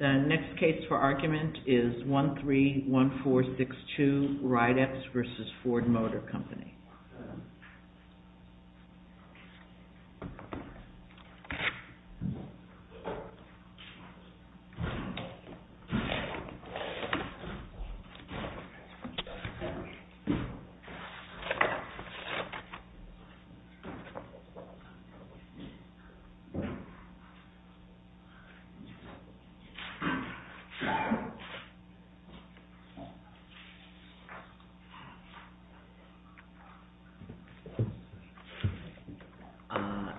The next case for argument is 13-1462, Ridex v. Ford Motor Company.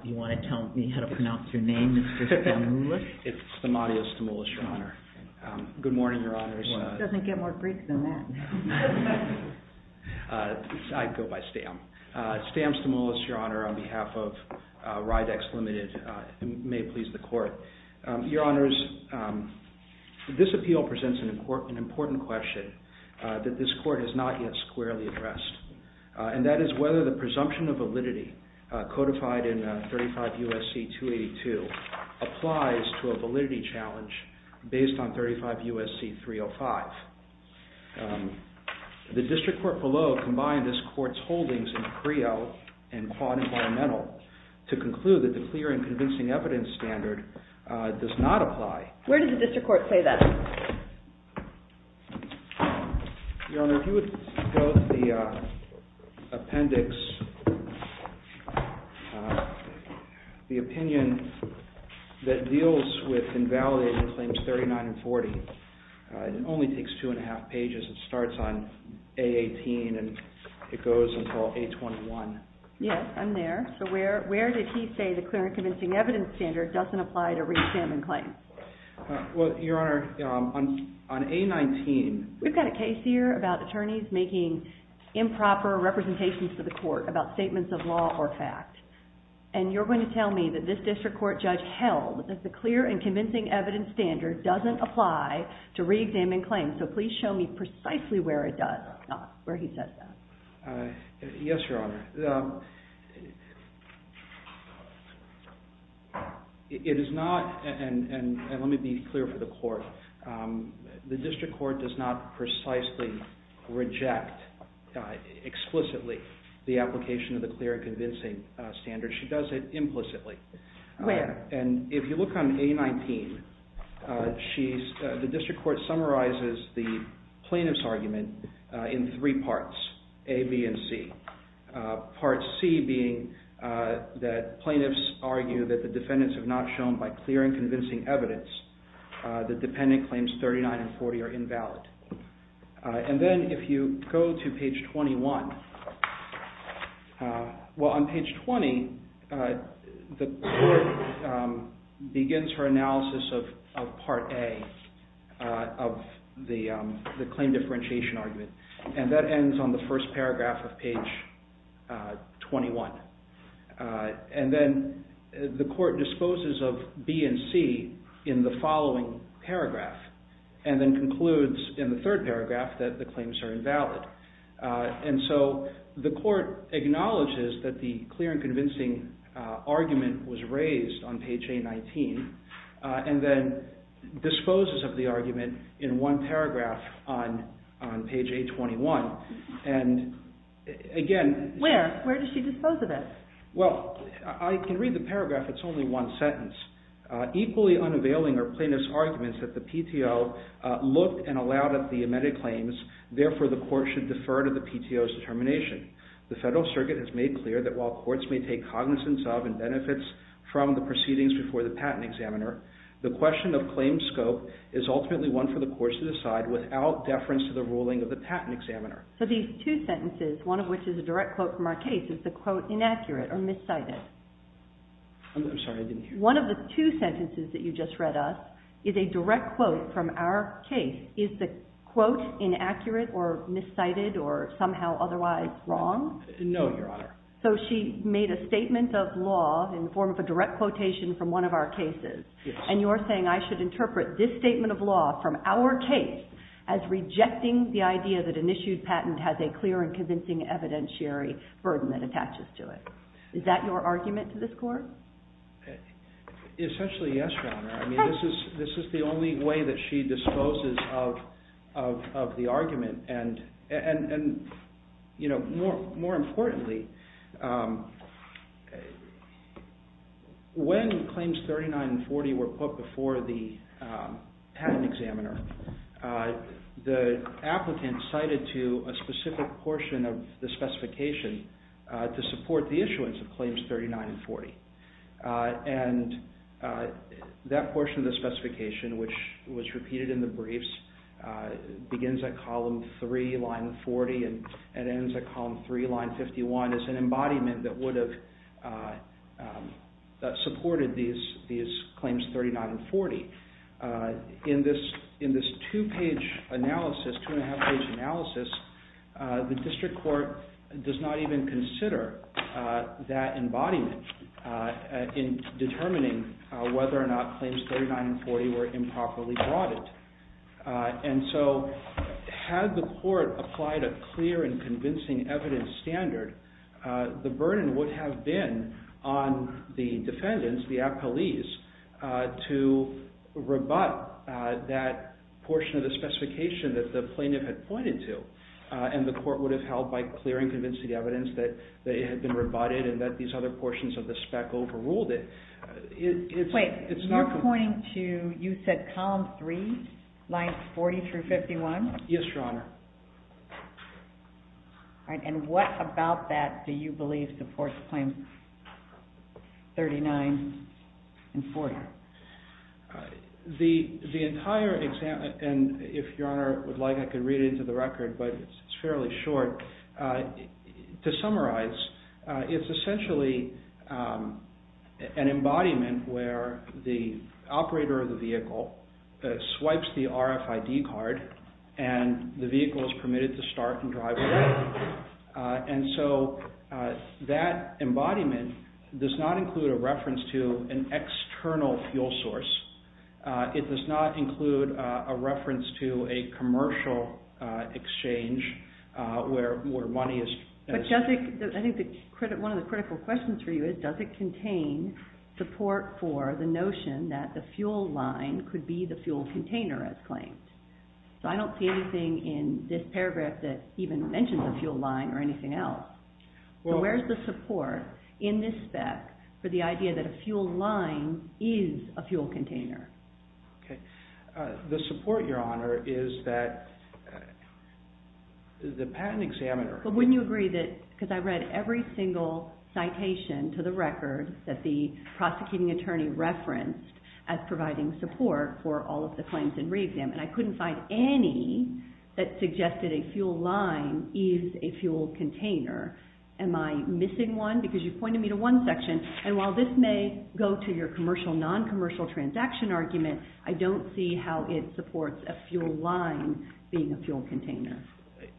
You want to tell me how to pronounce your name, Mr. Stamoulis? It's Stamatia Stamoulis, Your Honor. Good morning, Your Honors. Doesn't get more Greek than that. I go by Stam. Stam Stamoulis, Your Honor, on behalf of Ridex Ltd. May it please the Court. Your Honors, this appeal presents an important question that this Court has not yet squarely addressed. And that is whether the presumption of validity codified in 35 U.S.C. 282 applies to a validity challenge based on 35 U.S.C. 305. The District Court below combined this Court's holdings in CREO and Quad Environmental to conclude that the clear and convincing evidence standard does not apply. Where did the District Court say that? Your Honor, if you would go to the appendix, the opinion that deals with invalidating Claims 39 and 40. It only takes two and a half pages. It starts on A18 and it goes until A21. Yes, I'm there. So where did he say the clear and convincing evidence standard doesn't apply to re-examined claims? Well, Your Honor, on A19. We've got a case here about attorneys making improper representations to the Court about statements of law or fact. And you're going to tell me that this District Court judge held that the clear and convincing evidence standard doesn't apply to re-examined claims. So please show me precisely where it does not, where he says that. Yes, Your Honor. It is not, and let me be clear for the Court, the District Court does not precisely reject explicitly the application of the clear and convincing standard. She does it implicitly. Where? And if you look on A19, the District Court summarizes the plaintiff's argument in three parts, A, B, and C. Part C being that plaintiffs argue that the defendants have not shown by clear and convincing evidence that dependent claims 39 and 40 are invalid. And then if you go to page 21, well, on page 20, the Court begins her analysis of part A of the claim differentiation argument. And that ends on the first paragraph of page 21. And then the Court disposes of B and C in the following paragraph and then concludes in the third paragraph that the claims are invalid. And so the Court acknowledges that the clear and convincing argument was raised on page A19 and then disposes of the argument in one paragraph on page A21. And again... Where? Where does she dispose of it? Well, I can read the paragraph. It's only one sentence. Equally unavailing are plaintiff's arguments that the PTO looked and allowed up the amended claims. Therefore, the Court should defer to the PTO's determination. The Federal Circuit has made clear that while courts may take cognizance of and benefits from the proceedings before the patent examiner, the question of claim scope is ultimately one for the courts to decide without deference to the ruling of the patent examiner. So these two sentences, one of which is a direct quote from our case, is the quote inaccurate or miscited. I'm sorry, I didn't hear you. One of the two sentences that you just read us is a direct quote from our case. Is the quote inaccurate or miscited or somehow otherwise wrong? No, Your Honor. So she made a statement of law in the form of a direct quotation from one of our cases. Yes. And you're saying I should interpret this statement of law from our case as rejecting the idea that an issued patent has a clear and convincing evidentiary burden that attaches to it. Is that your argument to this Court? Essentially, yes, Your Honor. I mean, this is the only way that she disposes of the argument. And, you know, more importantly, when Claims 39 and 40 were put before the patent examiner, the applicant cited to a specific portion of the specification to support the issuance of Claims 39 and 40. And that portion of the specification, which was repeated in the briefs, begins at Column 3, Line 40, and ends at Column 3, Line 51, as an embodiment that would have supported these Claims 39 and 40. In this two-page analysis, two-and-a-half-page analysis, the District Court does not even consider that embodiment in determining whether or not Claims 39 and 40 were improperly brought in. And so had the Court applied a clear and convincing evidence standard, the burden would have been on the defendants, the appellees, to rebut that portion of the specification that the plaintiff had pointed to. And the Court would have held, by clear and convincing evidence, that it had been rebutted and that these other portions of the spec overruled it. Wait, you're pointing to, you said Column 3, Lines 40 through 51? Yes, Your Honor. And what about that do you believe supports Claims 39 and 40? The entire example, and if Your Honor would like, I could read it into the record, but it's fairly short. To summarize, it's essentially an embodiment where the operator of the vehicle swipes the RFID card and the vehicle is permitted to start and drive away. And so that embodiment does not include a reference to an external fuel source. It does not include a reference to a commercial exchange where money is... I think one of the critical questions for you is, does it contain support for the notion that the fuel line could be the fuel container as claimed? So I don't see anything in this paragraph that even mentions a fuel line or anything else. So where's the support in this spec for the idea that a fuel line is a fuel container? The support, Your Honor, is that the patent examiner... But wouldn't you agree that, because I read every single citation to the record that the prosecuting attorney referenced as providing support for all of the claims in re-exam, and I couldn't find any that suggested a fuel line is a fuel container. Am I missing one? Because you pointed me to one section, and while this may go to your commercial, non-commercial transaction argument, I don't see how it supports a fuel line being a fuel container.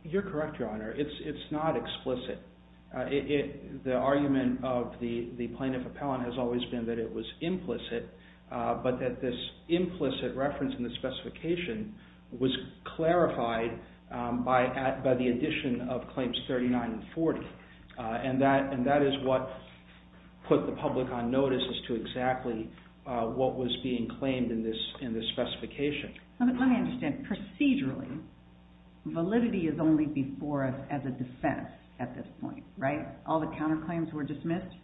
You're correct, Your Honor. It's not explicit. The argument of the plaintiff appellant has always been that it was implicit, but that this implicit reference in the specification was clarified by the addition of claims 39 and 40, and that is what put the public on notice as to exactly what was being claimed in this specification. Let me understand. Procedurally, validity is only before us as a defense at this point, right? All the counterclaims were dismissed?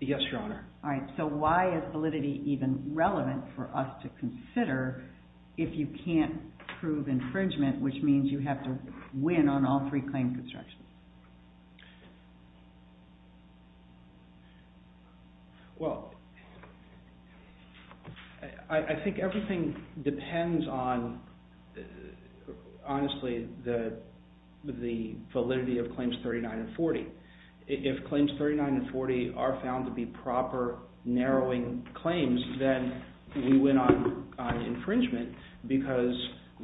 Yes, Your Honor. All right. So why is validity even relevant for us to consider if you can't prove infringement, which means you have to win on all three claim constructions? Well, I think everything depends on, honestly, the validity of claims 39 and 40. If claims 39 and 40 are found to be proper, narrowing claims, then we win on infringement because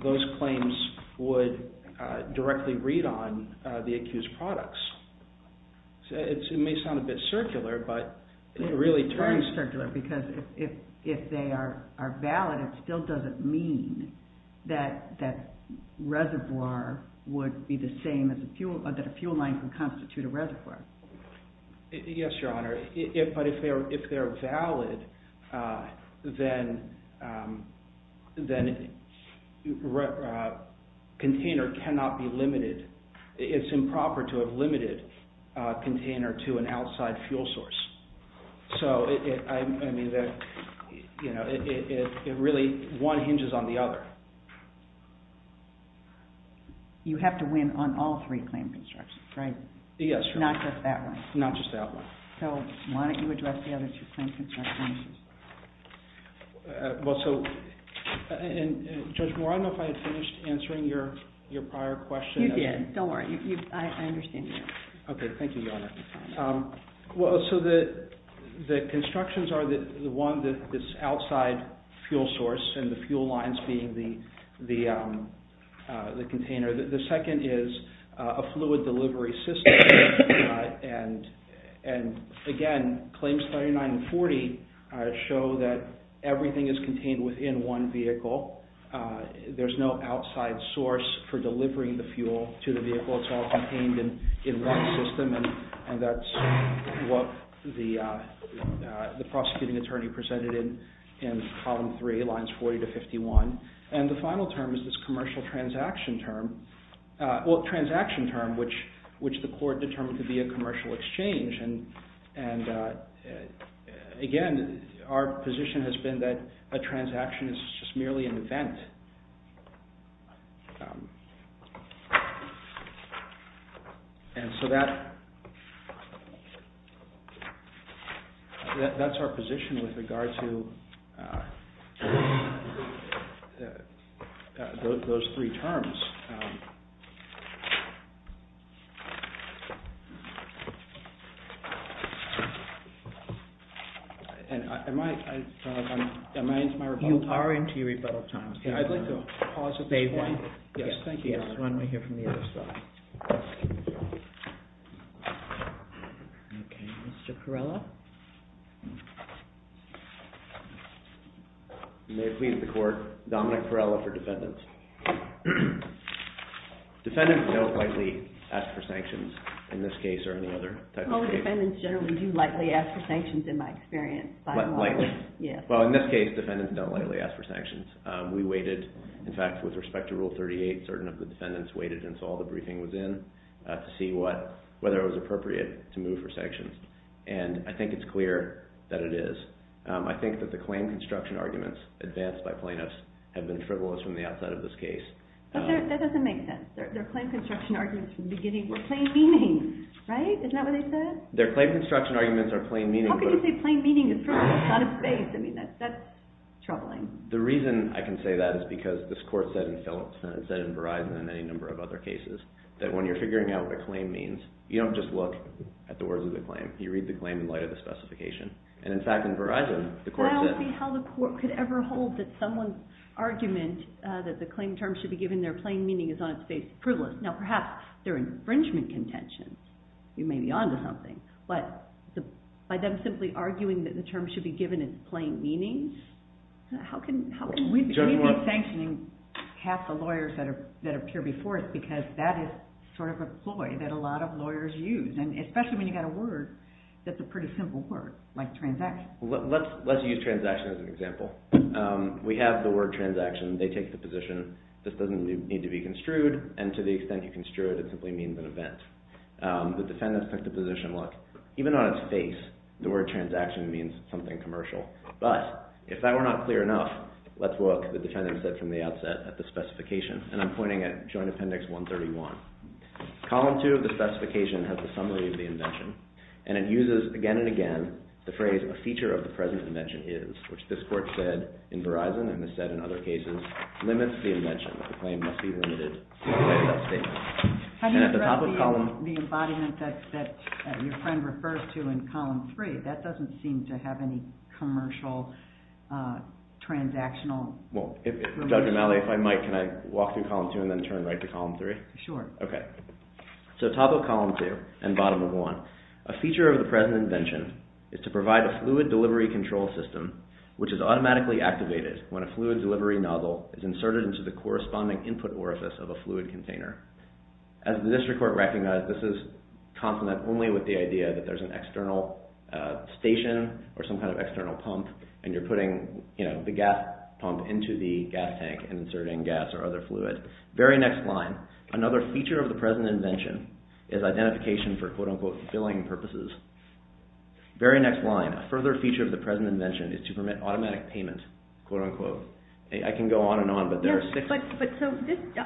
those claims would directly read on the accused products. It may sound a bit circular, but it really turns... It's very circular because if they are valid, it still doesn't mean that that reservoir would be the same as a fuel, that a fuel line can constitute a reservoir. Yes, Your Honor. But if they are valid, then container cannot be limited. It's improper to have limited a container to an outside fuel source. So, I mean, it really, one hinges on the other. You have to win on all three claim constructions, right? Yes, Your Honor. Not just that one. Not just that one. So why don't you address the other two claim constructions? Well, so, Judge Moore, I don't know if I finished answering your prior question. You did. Don't worry. I understand you. Okay. Thank you, Your Honor. Well, so the constructions are the one that is outside fuel source and the fuel lines being the container. The second is a fluid delivery system. And, again, claims 39 and 40 show that everything is contained within one vehicle. There's no outside source for delivering the fuel to the vehicle. It's all contained in one system, and that's what the prosecuting attorney presented in Column 3, Lines 40 to 51. And the final term is this commercial transaction term. Well, transaction term, which the court determined to be a commercial exchange. And, again, our position has been that a transaction is just merely an event. And so that's our position with regard to those three terms. And am I into my rebuttal time? You are into your rebuttal time. I'd like to pause at this point. Yes, thank you, Your Honor. Let's move on. We'll hear from the other side. Okay. Mr. Perella? You may have pleaded the court. Dominic Perella for defendants. Defendants don't likely ask for sanctions in this case or any other type of case. Oh, defendants generally do likely ask for sanctions in my experience. Lightly? Yes. Well, in this case, defendants don't likely ask for sanctions. We waited. In fact, with respect to Rule 38, certain of the defendants waited until all the briefing was in to see whether it was appropriate to move for sanctions. And I think it's clear that it is. I think that the claim construction arguments advanced by plaintiffs have been frivolous from the outside of this case. But that doesn't make sense. Their claim construction arguments from the beginning were plain meaning, right? Isn't that what they said? Their claim construction arguments are plain meaning. How can you say plain meaning is frivolous on its face? I mean, that's troubling. The reason I can say that is because this court said in Phillips and it said in Verizon and any number of other cases that when you're figuring out what a claim means, you don't just look at the words of the claim. You read the claim in light of the specification. And, in fact, in Verizon, the court said- I don't see how the court could ever hold that someone's argument that the claim term should be given their plain meaning is on its face frivolous. Now, perhaps they're infringement contentions. You may be on to something. But by them simply arguing that the term should be given its plain meaning, how can we be sanctioning half the lawyers that appear before us because that is sort of a ploy that a lot of lawyers use, especially when you've got a word that's a pretty simple word like transaction. Let's use transaction as an example. We have the word transaction. They take the position this doesn't need to be construed, and to the extent you construe it, it simply means an event. The defendant took the position, look, even on its face, the word transaction means something commercial. But, if that were not clear enough, let's look, the defendant said from the outset, at the specification. And I'm pointing at Joint Appendix 131. Column 2 of the specification has the summary of the invention, and it uses again and again the phrase, a feature of the present invention is, which this court said in Verizon and has said in other cases, limits the invention. The claim must be limited to that statement. Have you read the embodiment that your friend refers to in column 3? That doesn't seem to have any commercial, transactional relation. Well, Judge O'Malley, if I might, can I walk through column 2 and then turn right to column 3? Sure. Okay. So top of column 2 and bottom of 1, a feature of the present invention is to provide a fluid delivery control system, which is automatically activated when a fluid delivery nozzle is inserted into the corresponding input orifice of a fluid container. As the district court recognized, this is complement only with the idea that there's an external station or some kind of external pump, and you're putting the gas pump into the gas tank and inserting gas or other fluid. Very next line, another feature of the present invention is identification for, quote, unquote, filling purposes. Very next line, a further feature of the present invention is to permit automatic payment, quote, unquote. I can go on and on, but there are six.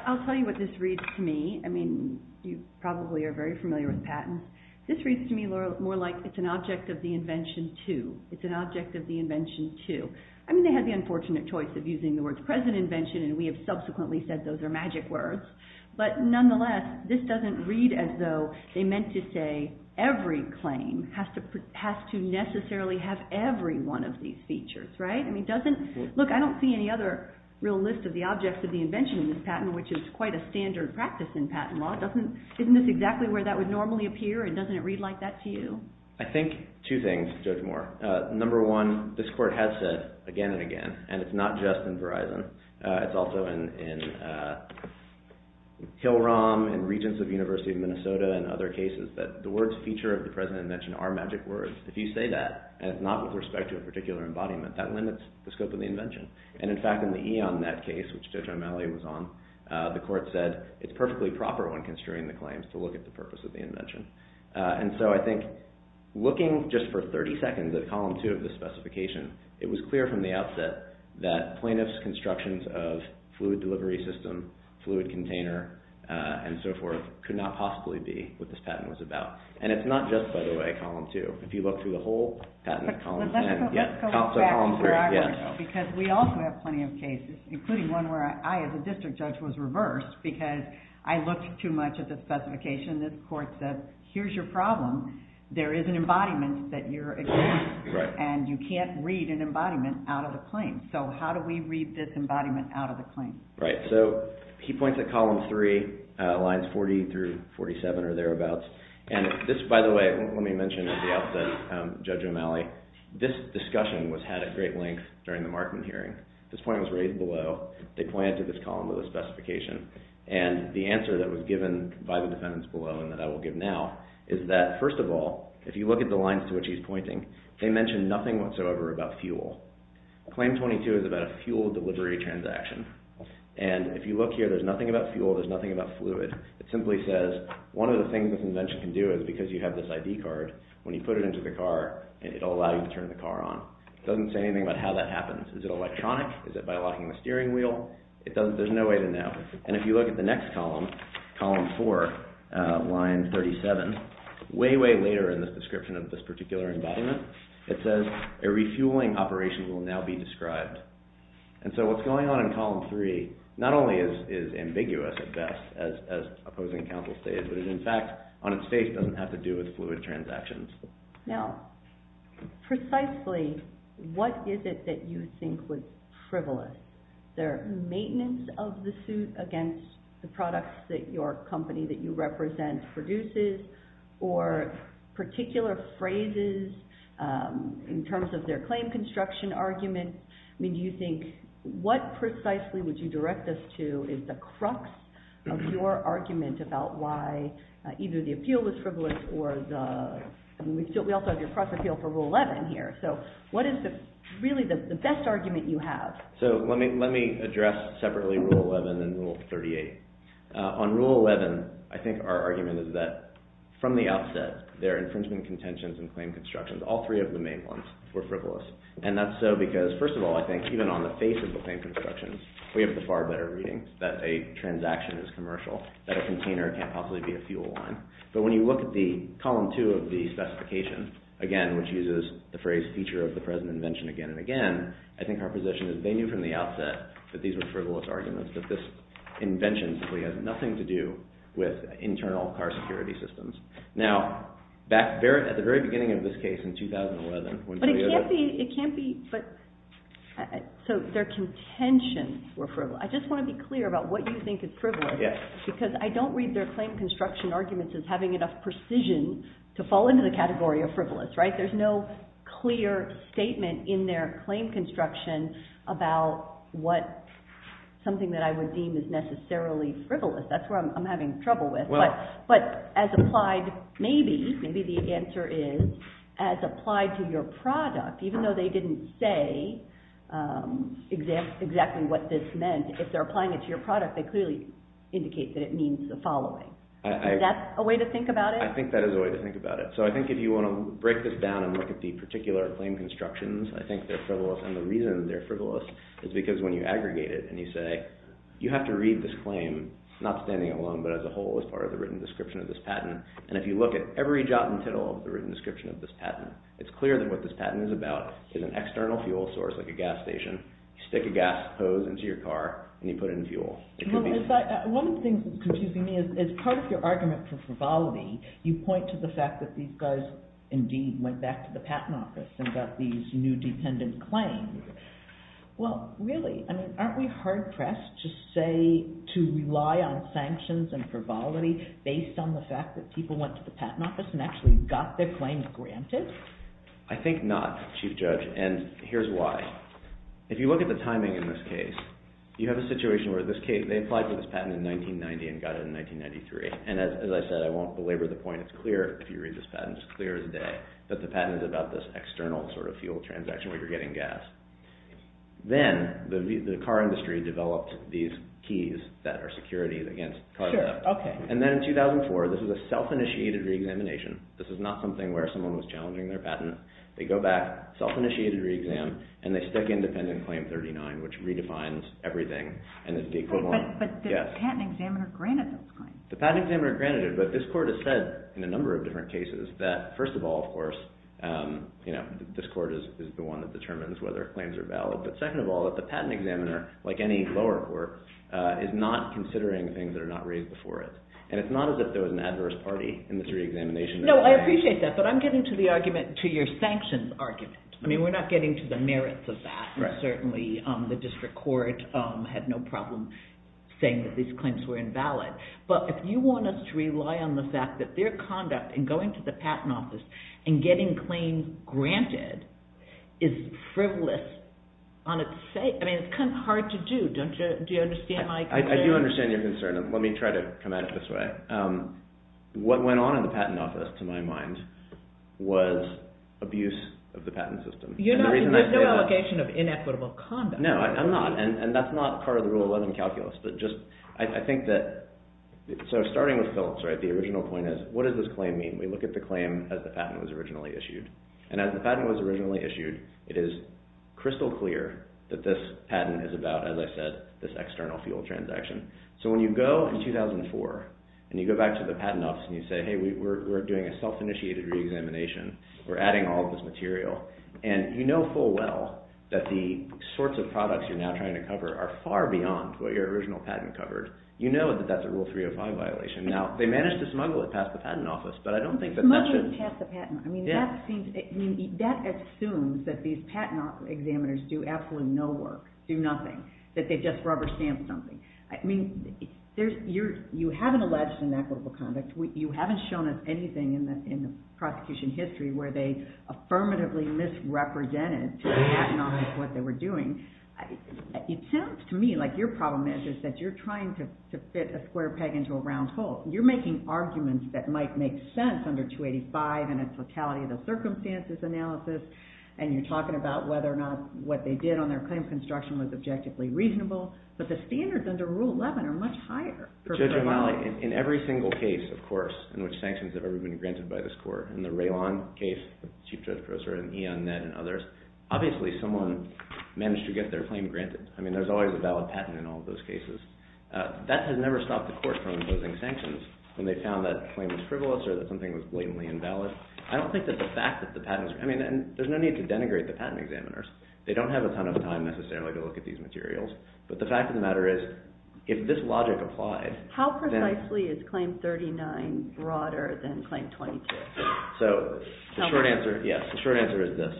I'll tell you what this reads to me. I mean, you probably are very familiar with patents. This reads to me, Laura, more like it's an object of the invention, too. It's an object of the invention, too. I mean, they had the unfortunate choice of using the words present invention, and we have subsequently said those are magic words. But nonetheless, this doesn't read as though they meant to say every claim has to necessarily have every one of these features, right? Look, I don't see any other real list of the objects of the invention in this patent, which is quite a standard practice in patent law. Isn't this exactly where that would normally appear, and doesn't it read like that to you? I think two things, Judge Moore. Number one, this court has said again and again, and it's not just in Verizon. It's also in Hill-Rom and Regents of the University of Minnesota and other cases that the words feature of the present invention are magic words. If you say that, and it's not with respect to a particular embodiment, that limits the scope of the invention. And in fact, in the EonNet case, which Judge O'Malley was on, the court said it's perfectly proper when construing the claims to look at the purpose of the invention. And so I think looking just for 30 seconds at Column 2 of the specification, it was clear from the outset that plaintiffs' constructions of fluid delivery system, fluid container, and so forth, could not possibly be what this patent was about. And it's not just, by the way, Column 2. If you look through the whole patent at Column 10. Let's go back to where I was, because we also have plenty of cases, including one where I, as a district judge, was reversed because I looked too much at the specification. This court said, here's your problem. There is an embodiment that you're examining, and you can't read an embodiment out of the claim. So how do we read this embodiment out of the claim? So he points at Column 3, lines 40 through 47 or thereabouts. And this, by the way, let me mention at the outset, Judge O'Malley, this discussion was had at great length during the Markman hearing. This point was raised below. They pointed to this column of the specification. And the answer that was given by the defendants below and that I will give now is that, first of all, if you look at the lines to which he's pointing, they mention nothing whatsoever about fuel. Claim 22 is about a fuel delivery transaction. And if you look here, there's nothing about fuel. There's nothing about fluid. It simply says one of the things this invention can do is, because you have this ID card, when you put it into the car, it will allow you to turn the car on. It doesn't say anything about how that happens. Is it electronic? Is it by locking the steering wheel? There's no way to know. And if you look at the next column, Column 4, line 37, way, way later in the description of this particular embodiment, it says a refueling operation will now be described. And so what's going on in Column 3 not only is ambiguous at best as opposing counsel stated, but it, in fact, on its face, doesn't have to do with fluid transactions. Now, precisely what is it that you think was frivolous? Their maintenance of the suit against the products that your company that you represent produces or particular phrases in terms of their claim construction argument? I mean, do you think what precisely would you direct us to is the crux of your argument about why either the appeal was frivolous or the—we also have your crux appeal for Rule 11 here. So what is really the best argument you have? So let me address separately Rule 11 and Rule 38. On Rule 11, I think our argument is that from the outset, their infringement contentions and claim constructions, all three of the main ones, were frivolous. And that's so because, first of all, I think even on the face of the claim constructions, we have the far better reading that a transaction is commercial, that a container can't possibly be a fuel line. But when you look at Column 2 of the specification, again, which uses the phrase feature of the present invention again and again, I think our position is they knew from the outset that these were frivolous arguments, that this invention simply has nothing to do with internal car security systems. Now, at the very beginning of this case in 2011— It can't be—so their contentions were frivolous. I just want to be clear about what you think is frivolous, because I don't read their claim construction arguments as having enough precision to fall into the category of frivolous, right? There's no clear statement in their claim construction about what— something that I would deem is necessarily frivolous. That's where I'm having trouble with. But as applied maybe, maybe the answer is as applied to your product, even though they didn't say exactly what this meant, if they're applying it to your product, they clearly indicate that it means the following. Is that a way to think about it? I think that is a way to think about it. So I think if you want to break this down and look at the particular claim constructions, I think they're frivolous. And the reason they're frivolous is because when you aggregate it and you say, you have to read this claim, not standing alone, but as a whole as part of the written description of this patent, and if you look at every jot and tittle of the written description of this patent, it's clear that what this patent is about is an external fuel source like a gas station. You stick a gas hose into your car and you put it in fuel. One of the things that's confusing me is part of your argument for frivolity, you point to the fact that these guys indeed went back to the patent office and got these new dependent claims. Well, really, aren't we hard pressed to rely on sanctions and frivolity based on the fact that people went to the patent office and actually got their claims granted? I think not, Chief Judge, and here's why. If you look at the timing in this case, you have a situation where they applied for this patent in 1990 and got it in 1993. And as I said, I won't belabor the point. It's clear if you read this patent, it's clear as day, that the patent is about this external sort of fuel transaction where you're getting gas. Then the car industry developed these keys that are securities against car theft. And then in 2004, this is a self-initiated re-examination. This is not something where someone was challenging their patent. They go back, self-initiated re-exam, and they stick independent claim 39, which redefines everything and is the equivalent. But the patent examiner granted those claims. The patent examiner granted it, but this court has said in a number of different cases that first of all, of course, this court is the one that determines whether claims are valid, but second of all, that the patent examiner, like any lower court, is not considering things that are not raised before it. And it's not as if there was an adverse party in this re-examination. No, I appreciate that, but I'm getting to the argument, to your sanctions argument. I mean, we're not getting to the merits of that. Certainly, the district court had no problem saying that these claims were invalid. But if you want us to rely on the fact that their conduct in going to the patent office and getting claims granted is frivolous on its sake, I mean, it's kind of hard to do. Do you understand my concern? I do understand your concern. Let me try to come at it this way. What went on in the patent office, to my mind, was abuse of the patent system. You have no obligation of inequitable conduct. No, I'm not, and that's not part of the Rule 11 calculus. But just, I think that, so starting with Phillips, right, the original point is, what does this claim mean? We look at the claim as the patent was originally issued. And as the patent was originally issued, it is crystal clear that this patent is about, as I said, this external fuel transaction. So when you go in 2004 and you go back to the patent office and you say, hey, we're doing a self-initiated re-examination, we're adding all of this material, and you know full well that the sorts of products you're now trying to cover are far beyond what your original patent covered, you know that that's a Rule 305 violation. Now, they managed to smuggle it past the patent office, but I don't think that that should... Smuggling past the patent office, I mean, that assumes that these patent examiners do absolutely no work, do nothing, that they just rubber stamp something. I mean, you haven't alleged inequitable conduct. You haven't shown us anything in the prosecution history where they affirmatively misrepresented to the patent office what they were doing. I mean, it sounds to me like your problem is that you're trying to fit a square peg into a round hole. You're making arguments that might make sense under 285 and its lethality of the circumstances analysis, and you're talking about whether or not what they did on their claim construction was objectively reasonable, but the standards under Rule 11 are much higher. Judge O'Malley, in every single case, of course, in which sanctions have ever been granted by this court, in the Raylon case, the Chief Judge Professor, and E.O. Net and others, obviously someone managed to get their claim granted. I mean, there's always a valid patent in all of those cases. That has never stopped the court from imposing sanctions when they found that the claim was frivolous or that something was blatantly invalid. I don't think that the fact that the patents... I mean, there's no need to denigrate the patent examiners. They don't have a ton of time necessarily to look at these materials, but the fact of the matter is, if this logic applied... How precisely is Claim 39 broader than Claim 22? The short answer is this.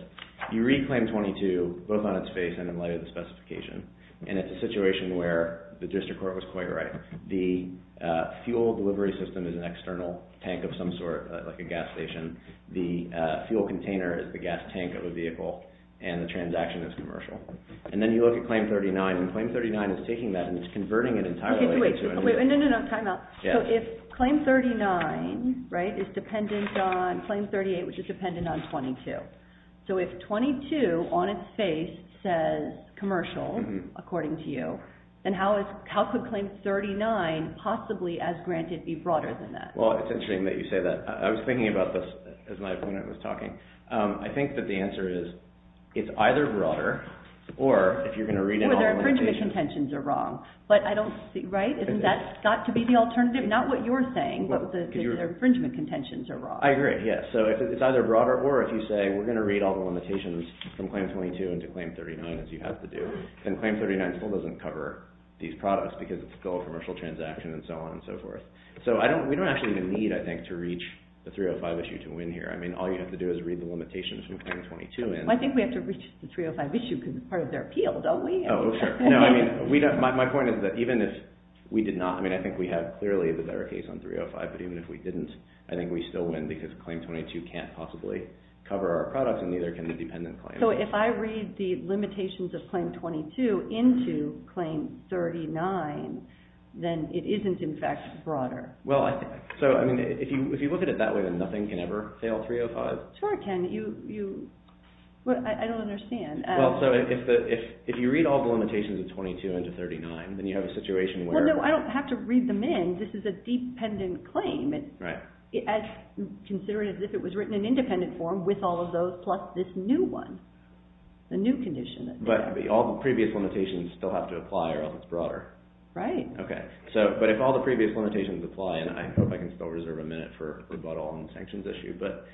You read Claim 22, both on its face and in light of the specification, and it's a situation where the district court was quite right. The fuel delivery system is an external tank of some sort, like a gas station. The fuel container is the gas tank of a vehicle, and the transaction is commercial. And then you look at Claim 39, and Claim 39 is taking that and it's converting it entirely into... Wait, no, no, no, time out. So if Claim 39 is dependent on... Claim 38, which is dependent on 22. So if 22, on its face, says commercial, according to you, then how could Claim 39 possibly, as granted, be broader than that? Well, it's interesting that you say that. I was thinking about this as my opponent was talking. I think that the answer is, it's either broader or, if you're going to read in all the limitations... It's got to be the alternative. Not what you're saying, but the infringement contentions are broad. I agree, yes. So it's either broader or, if you say, we're going to read all the limitations from Claim 22 into Claim 39, as you have to do, then Claim 39 still doesn't cover these products because it's still a commercial transaction and so on and so forth. So we don't actually even need, I think, to reach the 305 issue to win here. I mean, all you have to do is read the limitations from Claim 22 in. I think we have to reach the 305 issue because it's part of their appeal, don't we? No, I mean, my point is that even if we did not, I mean, I think we have clearly the better case on 305, but even if we didn't, I think we still win because Claim 22 can't possibly cover our products and neither can the dependent claim. So if I read the limitations of Claim 22 into Claim 39, then it isn't, in fact, broader. Well, so, I mean, if you look at it that way, then nothing can ever fail 305. Sure it can. I don't understand. Well, so if you read all the limitations of 22 into 39, then you have a situation where… Well, no, I don't have to read them in. This is a dependent claim. Right. It's considered as if it was written in independent form with all of those plus this new one, the new condition. But all the previous limitations still have to apply or else it's broader. Right. Okay. But if all the previous limitations apply, and I hope I can still reserve a minute for rebuttal on the sanctions issue, but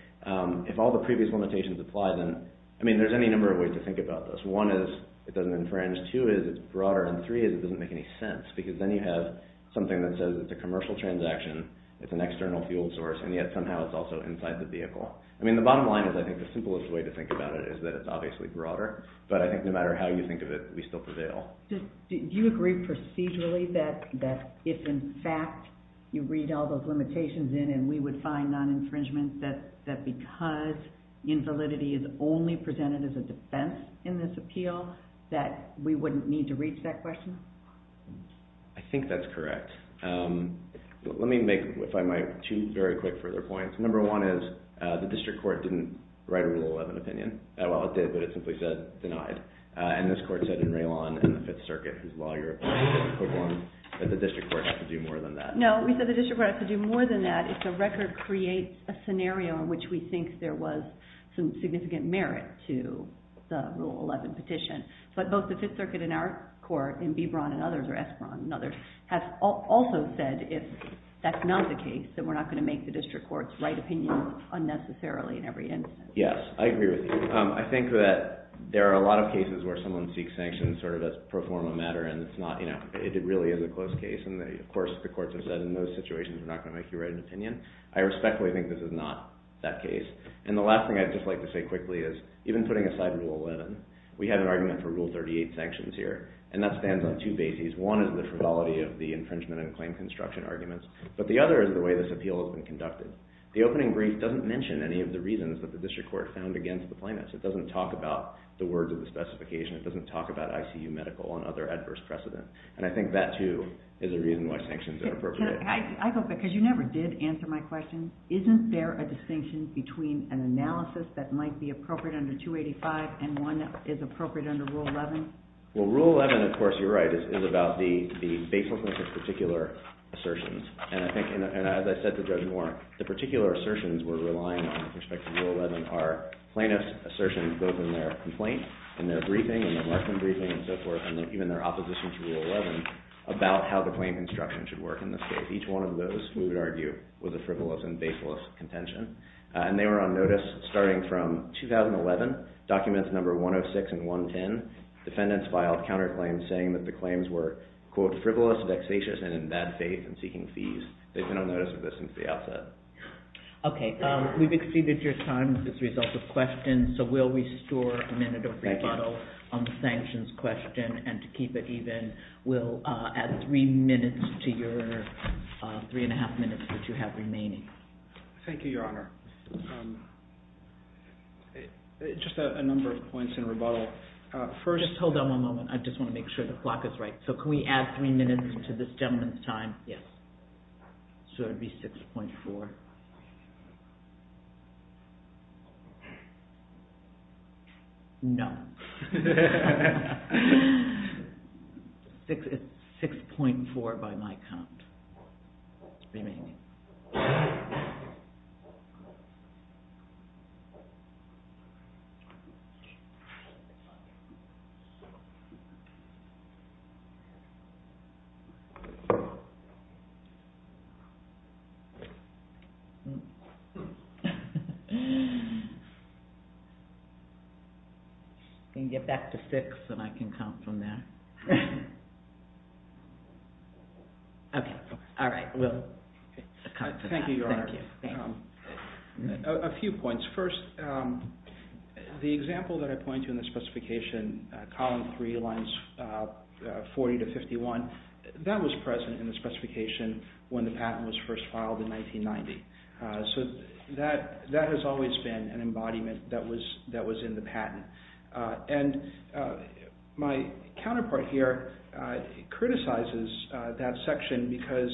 if all the previous limitations apply, then, I mean, there's any number of ways to think about this. One is it doesn't infringe. Two is it's broader. And three is it doesn't make any sense because then you have something that says it's a commercial transaction, it's an external fuel source, and yet somehow it's also inside the vehicle. I mean, the bottom line is I think the simplest way to think about it is that it's obviously broader. But I think no matter how you think of it, we still prevail. Do you agree procedurally that if, in fact, you read all those limitations in and we would find non-infringement that because invalidity is only presented as a defense in this appeal, that we wouldn't need to reach that question? I think that's correct. Let me make, if I might, two very quick further points. Number one is the district court didn't write a Rule 11 opinion. Well, it did, but it simply said denied. And this court said in Raylon and the Fifth Circuit, whose law you're applying to is equivalent, that the district court has to do more than that. No, we said the district court has to do more than that if the record creates a scenario in which we think there was some significant merit to the Rule 11 petition. But both the Fifth Circuit in our court, in B. Braun and others, or S. Braun and others, have also said if that's not the case, then we're not going to make the district court's right opinion unnecessarily in every instance. Yes, I agree with you. I think that there are a lot of cases where someone seeks sanctions sort of as pro forma matter, and it's not, you know, it really is a close case. And, of course, the courts have said in those situations, we're not going to make you write an opinion. I respectfully think this is not that case. And the last thing I'd just like to say quickly is, even putting aside Rule 11, we have an argument for Rule 38 sanctions here. And that stands on two bases. One is the frivolity of the infringement and claim construction arguments. But the other is the way this appeal has been conducted. The opening brief doesn't mention any of the reasons that the district court found against the plaintiffs. It doesn't talk about the words of the specification. It doesn't talk about ICU medical and other adverse precedent. And I think that, too, is a reason why sanctions are appropriate. Can I go back? Because you never did answer my question. Isn't there a distinction between an analysis that might be appropriate under 285 and one that is appropriate under Rule 11? Well, Rule 11, of course, you're right, is about the baselessness of particular assertions. And I think, as I said to Judge Warren, the particular assertions we're relying on with respect to Rule 11 are plaintiff's assertions both in their complaint, in their briefing, in their markman briefing, and so forth, and even their opposition to Rule 11 about how the claim construction should work in this case. Each one of those, we would argue, was a frivolous and baseless contention. And they were on notice starting from 2011, documents number 106 and 110. Defendants filed counterclaims saying that the claims were, quote, They've been on notice of this since the outset. Okay. We've exceeded your time as a result of questions, so we'll restore a minute of rebuttal on the sanctions question. And to keep it even, we'll add three minutes to your three-and-a-half minutes that you have remaining. Thank you, Your Honor. Just a number of points in rebuttal. First, hold on one moment. I just want to make sure the clock is right. So can we add three minutes to this gentleman's time? Yes. So it would be 6.4. No. It's 6.4 by my count. It's remaining. I'm going to get back to six, and I can count from there. Okay. All right. We'll come to that. Thank you, Your Honor. Thank you. Thank you. A few points. First, the example that I pointed to in the specification, column three, lines 40 to 51, that was present in the specification when the patent was first filed in 1990. So that has always been an embodiment that was in the patent. And my counterpart here criticizes that section because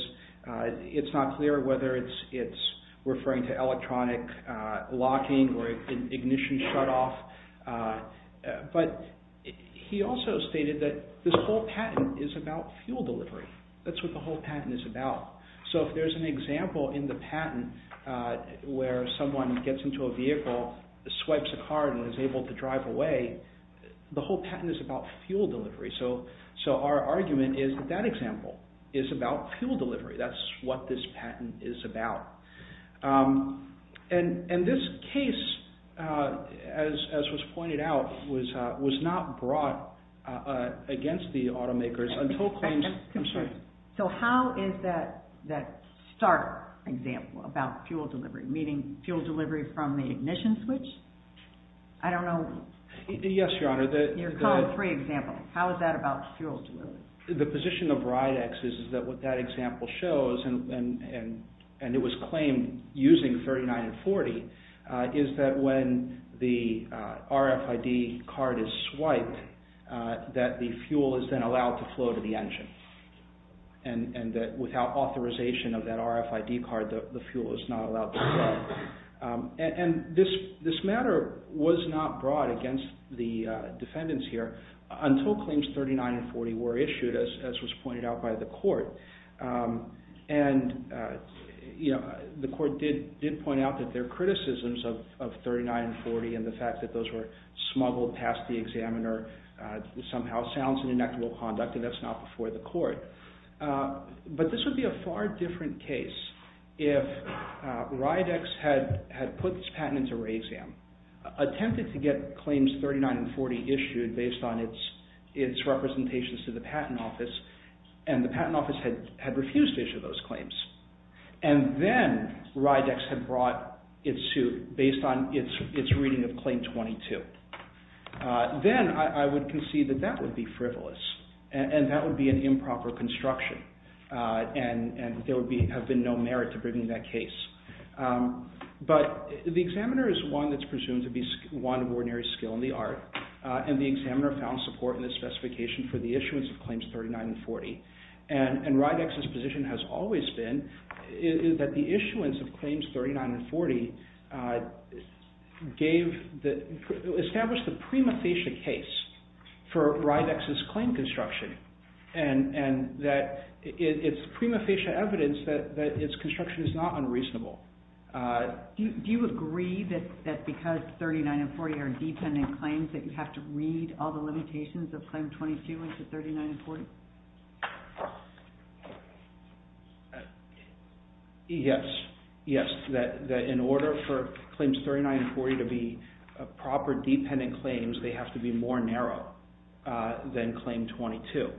it's not clear whether it's referring to electronic locking or ignition shutoff. But he also stated that this whole patent is about fuel delivery. That's what the whole patent is about. So if there's an example in the patent where someone gets into a vehicle, swipes a card, and is able to drive away, the whole patent is about fuel delivery. So our argument is that that example is about fuel delivery. That's what this patent is about. And this case, as was pointed out, was not brought against the automakers until claims. I'm sorry. So how is that starter example about fuel delivery, meaning fuel delivery from the ignition switch? I don't know. Yes, Your Honor. Your column three example. How is that about fuel delivery? The position of Ridex is that what that example shows, and it was claimed using 39 and 40, is that when the RFID card is swiped, that the fuel is then allowed to flow to the engine. And that without authorization of that RFID card, the fuel is not allowed to flow. And this matter was not brought against the defendants here until claims 39 and 40 were issued, as was pointed out by the court. And the court did point out that their criticisms of 39 and 40 and the fact that those were smuggled past the examiner somehow sounds an inequitable conduct, and that's not before the court. But this would be a far different case if Ridex had put this patent into RayExam, attempted to get claims 39 and 40 issued based on its representations to the patent office, and the patent office had refused to issue those claims. And then Ridex had brought its suit based on its reading of claim 22. Then I would concede that that would be frivolous, and that would be an improper construction, and there would have been no merit to bringing that case. But the examiner is one that's presumed to be one of ordinary skill in the art, and the examiner found support in the specification for the issuance of claims 39 and 40. And Ridex's position has always been that the issuance of claims 39 and 40 established the prima facie case for Ridex's claim construction, and that it's prima facie evidence that its construction is not unreasonable. Do you agree that because 39 and 40 are dependent claims that you have to read all the limitations of claim 22 into 39 and 40? Yes. Yes, that in order for claims 39 and 40 to be proper dependent claims, they have to be more narrow than claim 22.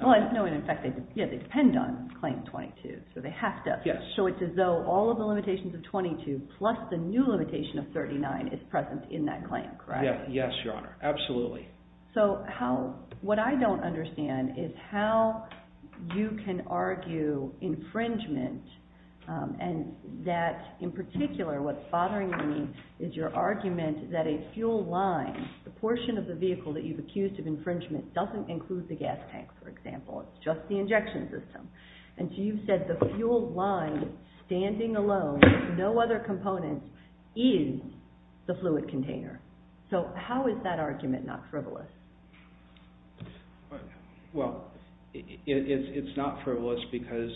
Well, I know, in fact, they depend on claim 22, so they have to. So it's as though all of the limitations of 22 plus the new limitation of 39 is present in that claim, correct? Yes, Your Honor, absolutely. So what I don't understand is how you can argue infringement and that, in particular, what's bothering me is your argument that a fuel line, the portion of the vehicle that you've accused of infringement, doesn't include the gas tank, for example. It's just the injection system. And so you've said the fuel line, standing alone, no other components, is the fluid container. So how is that argument not frivolous? Well, it's not frivolous because,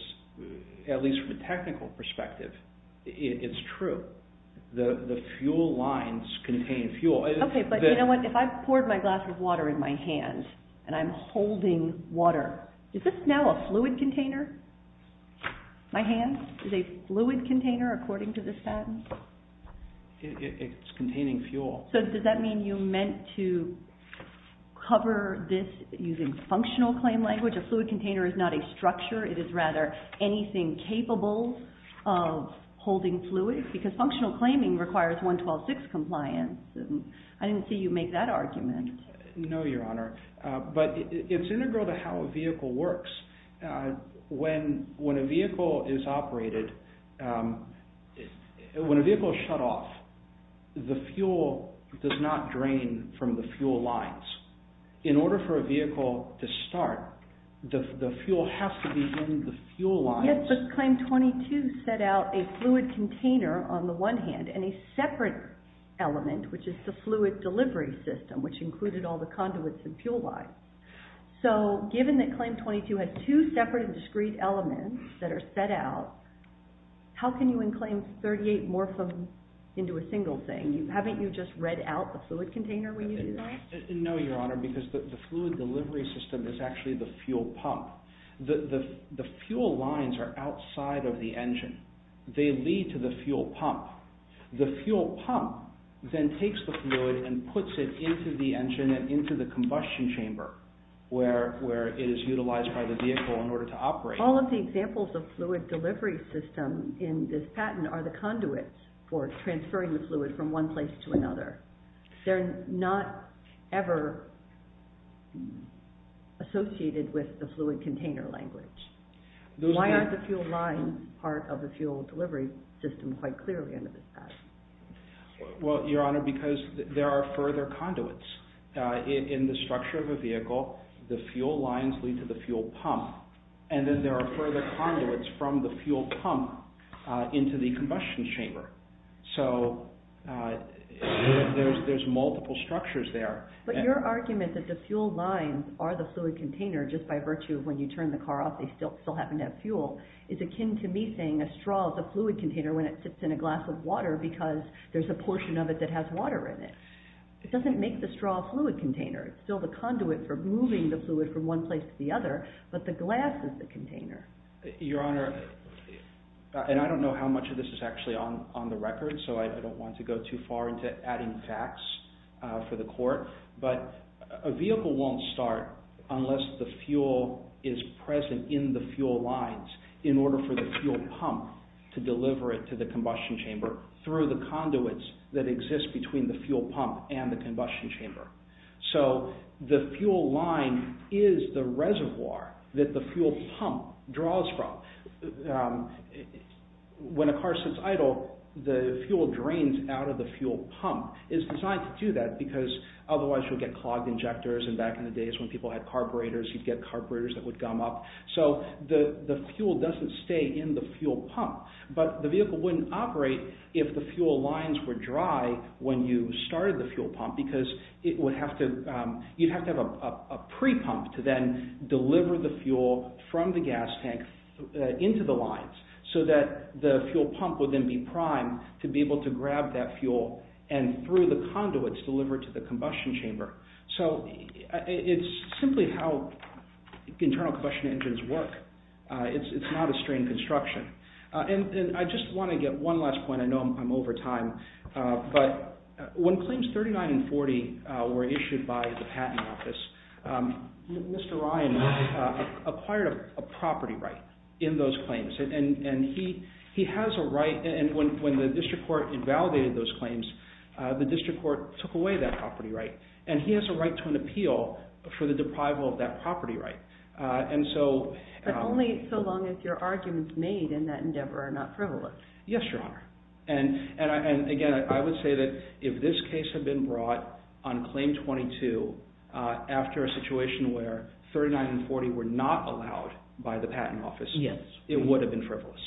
at least from a technical perspective, it's true. The fuel lines contain fuel. Okay, but you know what? If I poured my glass with water in my hand and I'm holding water, is this now a fluid container? My hand is a fluid container, according to the statute? It's containing fuel. So does that mean you meant to cover this using functional claim language? A fluid container is not a structure. It is rather anything capable of holding fluid because functional claiming requires 112.6 compliance. I didn't see you make that argument. No, Your Honor. But it's integral to how a vehicle works. When a vehicle is operated, when a vehicle is shut off, the fuel does not drain from the fuel lines. In order for a vehicle to start, the fuel has to be in the fuel lines. Yes, but Claim 22 set out a fluid container on the one hand and a separate element, which is the fluid delivery system, which included all the conduits and fuel lines. So given that Claim 22 has two separate and discrete elements that are set out, how can you enclaim 38 morphem into a single thing? Haven't you just read out the fluid container when you do that? No, Your Honor, because the fluid delivery system is actually the fuel pump. The fuel lines are outside of the engine. They lead to the fuel pump. The fuel pump then takes the fluid and puts it into the engine and into the combustion chamber where it is utilized by the vehicle in order to operate. All of the examples of fluid delivery system in this patent are the conduits for transferring the fluid from one place to another. They're not ever associated with the fluid container language. Why aren't the fuel lines part of the fuel delivery system quite clearly under this patent? Well, Your Honor, because there are further conduits. In the structure of a vehicle, the fuel lines lead to the fuel pump, and then there are further conduits from the fuel pump into the combustion chamber. So there's multiple structures there. But your argument that the fuel lines are the fluid container just by virtue of when you turn the car off they still happen to have fuel is akin to me saying a straw is a fluid container when it sits in a glass of water because there's a portion of it that has water in it. It doesn't make the straw a fluid container. It's still the conduit for moving the fluid from one place to the other, but the glass is the container. Your Honor, and I don't know how much of this is actually on the record, so I don't want to go too far into adding facts for the court, but a vehicle won't start unless the fuel is present in the fuel lines in order for the fuel pump to deliver it to the combustion chamber through the conduits that exist between the fuel pump and the combustion chamber. So the fuel line is the reservoir that the fuel pump draws from. When a car sits idle, the fuel drains out of the fuel pump. It's designed to do that because otherwise you'll get clogged injectors and back in the days when people had carburetors you'd get carburetors that would gum up. So the fuel doesn't stay in the fuel pump, but the vehicle wouldn't operate if the fuel lines were dry when you started the fuel pump because you'd have to have a pre-pump to then deliver the fuel from the gas tank into the lines so that the fuel pump would then be primed to be able to grab that fuel and through the conduits deliver it to the combustion chamber. So it's simply how internal combustion engines work. It's not a strain construction. I just want to get one last point. I know I'm over time, but when Claims 39 and 40 were issued by the Patent Office, Mr. Ryan acquired a property right in those claims and he has a right and when the District Court invalidated those claims, the District Court took away that property right and he has a right to an appeal for the deprival of that property right. But only so long as your arguments made in that endeavor are not frivolous. Yes, Your Honor. And again, I would say that if this case had been brought on Claim 22 after a situation where 39 and 40 were not allowed by the Patent Office, it would have been frivolous.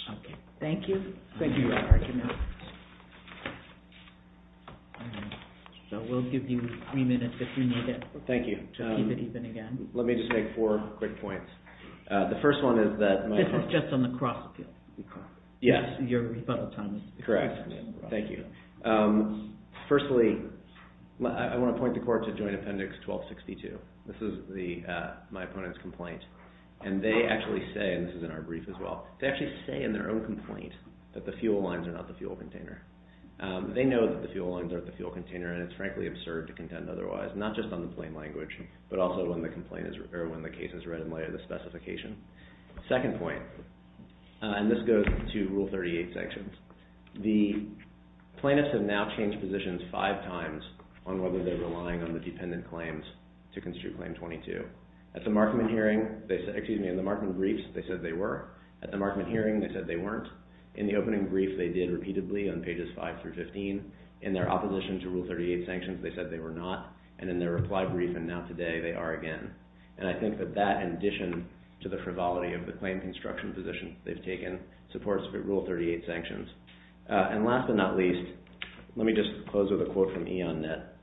Thank you for your argument. So we'll give you three minutes if you need it to keep it even again. Let me just make four quick points. The first one is that... This is just on the cross appeal. Yes. Your rebuttal time is... Correct. Thank you. Firstly, I want to point the court to Joint Appendix 1262. This is my opponent's complaint and they actually say, and this is in our brief as well, they actually say in their own complaint that the fuel lines are not the fuel container. They know that the fuel lines are the fuel container and it's frankly absurd to contend otherwise, not just on the plain language, but also when the case is read and later the specification. Second point, and this goes to Rule 38 sanctions. The plaintiffs have now changed positions five times on whether they're relying on the dependent claims to construe Claim 22. At the Markman hearing, excuse me, in the Markman briefs, they said they were. At the Markman hearing, they said they weren't. In the opening brief, they did repeatedly on pages 5 through 15. In their opposition to Rule 38 sanctions, they said they were not and in their reply brief and now today, they are again. And I think that that, in addition to the frivolity of the claim construction position they've taken, supports Rule 38 sanctions. And last but not least, let me just close with a quote from Ian Nett.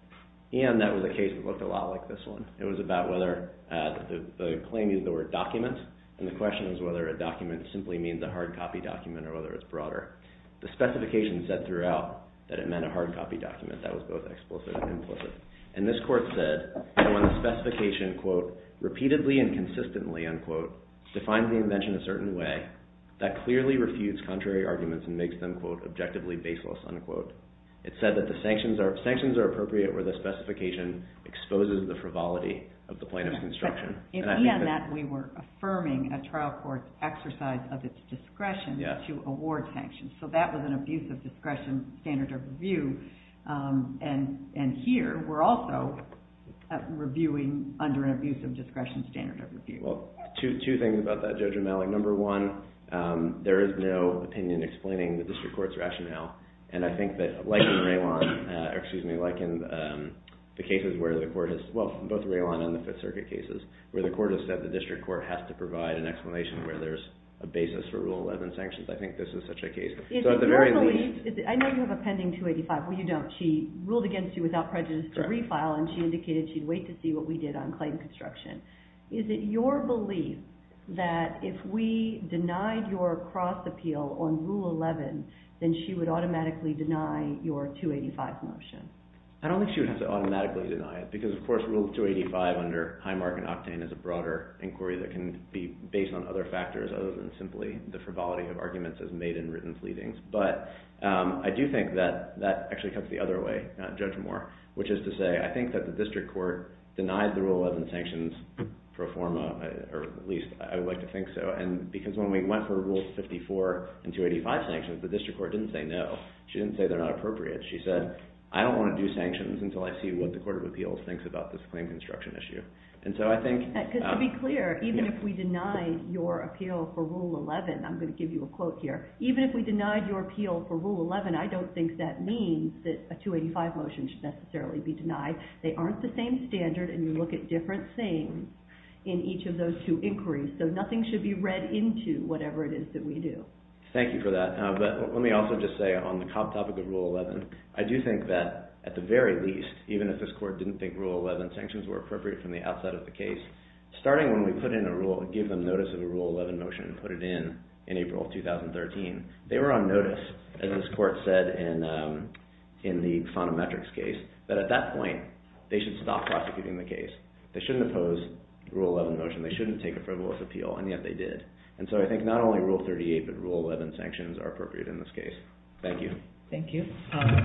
Ian Nett was a case that looked a lot like this one. It was about whether the claim used the word document and the question is whether a document simply means a hard copy document or whether it's broader. The specification said throughout that it meant a hard copy document. That was both explicit and implicit. And this court said that when the specification repeatedly and consistently defines the invention a certain way, that clearly refutes contrary arguments and makes them objectively baseless. It said that the sanctions are appropriate where the specification exposes the frivolity of the plaintiff's construction. In Ian Nett, we were affirming a trial court's exercise of its discretion to award sanctions. So that was an abuse of discretion standard of review. And here, we're also reviewing under an abuse of discretion standard of review. Well, two things about that, Judge Amalek. Number one, there is no opinion explaining the district court's rationale. And I think that like in Raylon, excuse me, like in the cases where the court has, well, both Raylon and the Fifth Circuit cases where the court has said the district court has to provide an explanation where there's a basis for Rule 11 sanctions. I think this is such a case. So at the very least... I know you have a pending 285. Well, you don't. She ruled against you without prejudice to refile and she indicated she'd wait to see what we did on claim construction. Is it your belief that if we denied your cross appeal on Rule 11, then she would automatically deny your 285 motion? I don't think she would have to automatically deny it because, of course, Rule 285 under Highmark and Octane is a broader inquiry that can be based on other factors other than simply the frivolity of arguments as made in written pleadings. But I do think that that actually cuts the other way, Judge Moore, which is to say I think that the district court denied the Rule 11 sanctions pro forma, or at least I would like to think so. Because when we went for Rule 54 and 285 sanctions, the district court didn't say no. She didn't say they're not appropriate. She said, I don't want to do sanctions until I see what the Court of Appeals thinks about this claim construction issue. And so I think... To be clear, even if we denied your appeal for Rule 11, I'm going to give you a quote here, even if we denied your appeal for Rule 11, I don't think that means that a 285 motion should necessarily be denied. They aren't the same standard and you look at different things in each of those two inquiries. So nothing should be read into whatever it is that we do. Thank you for that. But let me also just say on the topic of Rule 11, I do think that at the very least, even if this court didn't think Rule 11 sanctions were appropriate from the outside of the case, starting when we put in a rule, give them notice of a Rule 11 motion and put it in in April of 2013, they were on notice as this court said in the Sonometrics case, that at that point they should stop prosecuting the case. They shouldn't oppose Rule 11 motion. They shouldn't take a frivolous appeal and yet they did. And so I think not only Rule 38, but Rule 11 sanctions are appropriate in this case. Thank you. Thank you.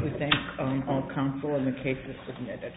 We thank all counsel and the cases submitted.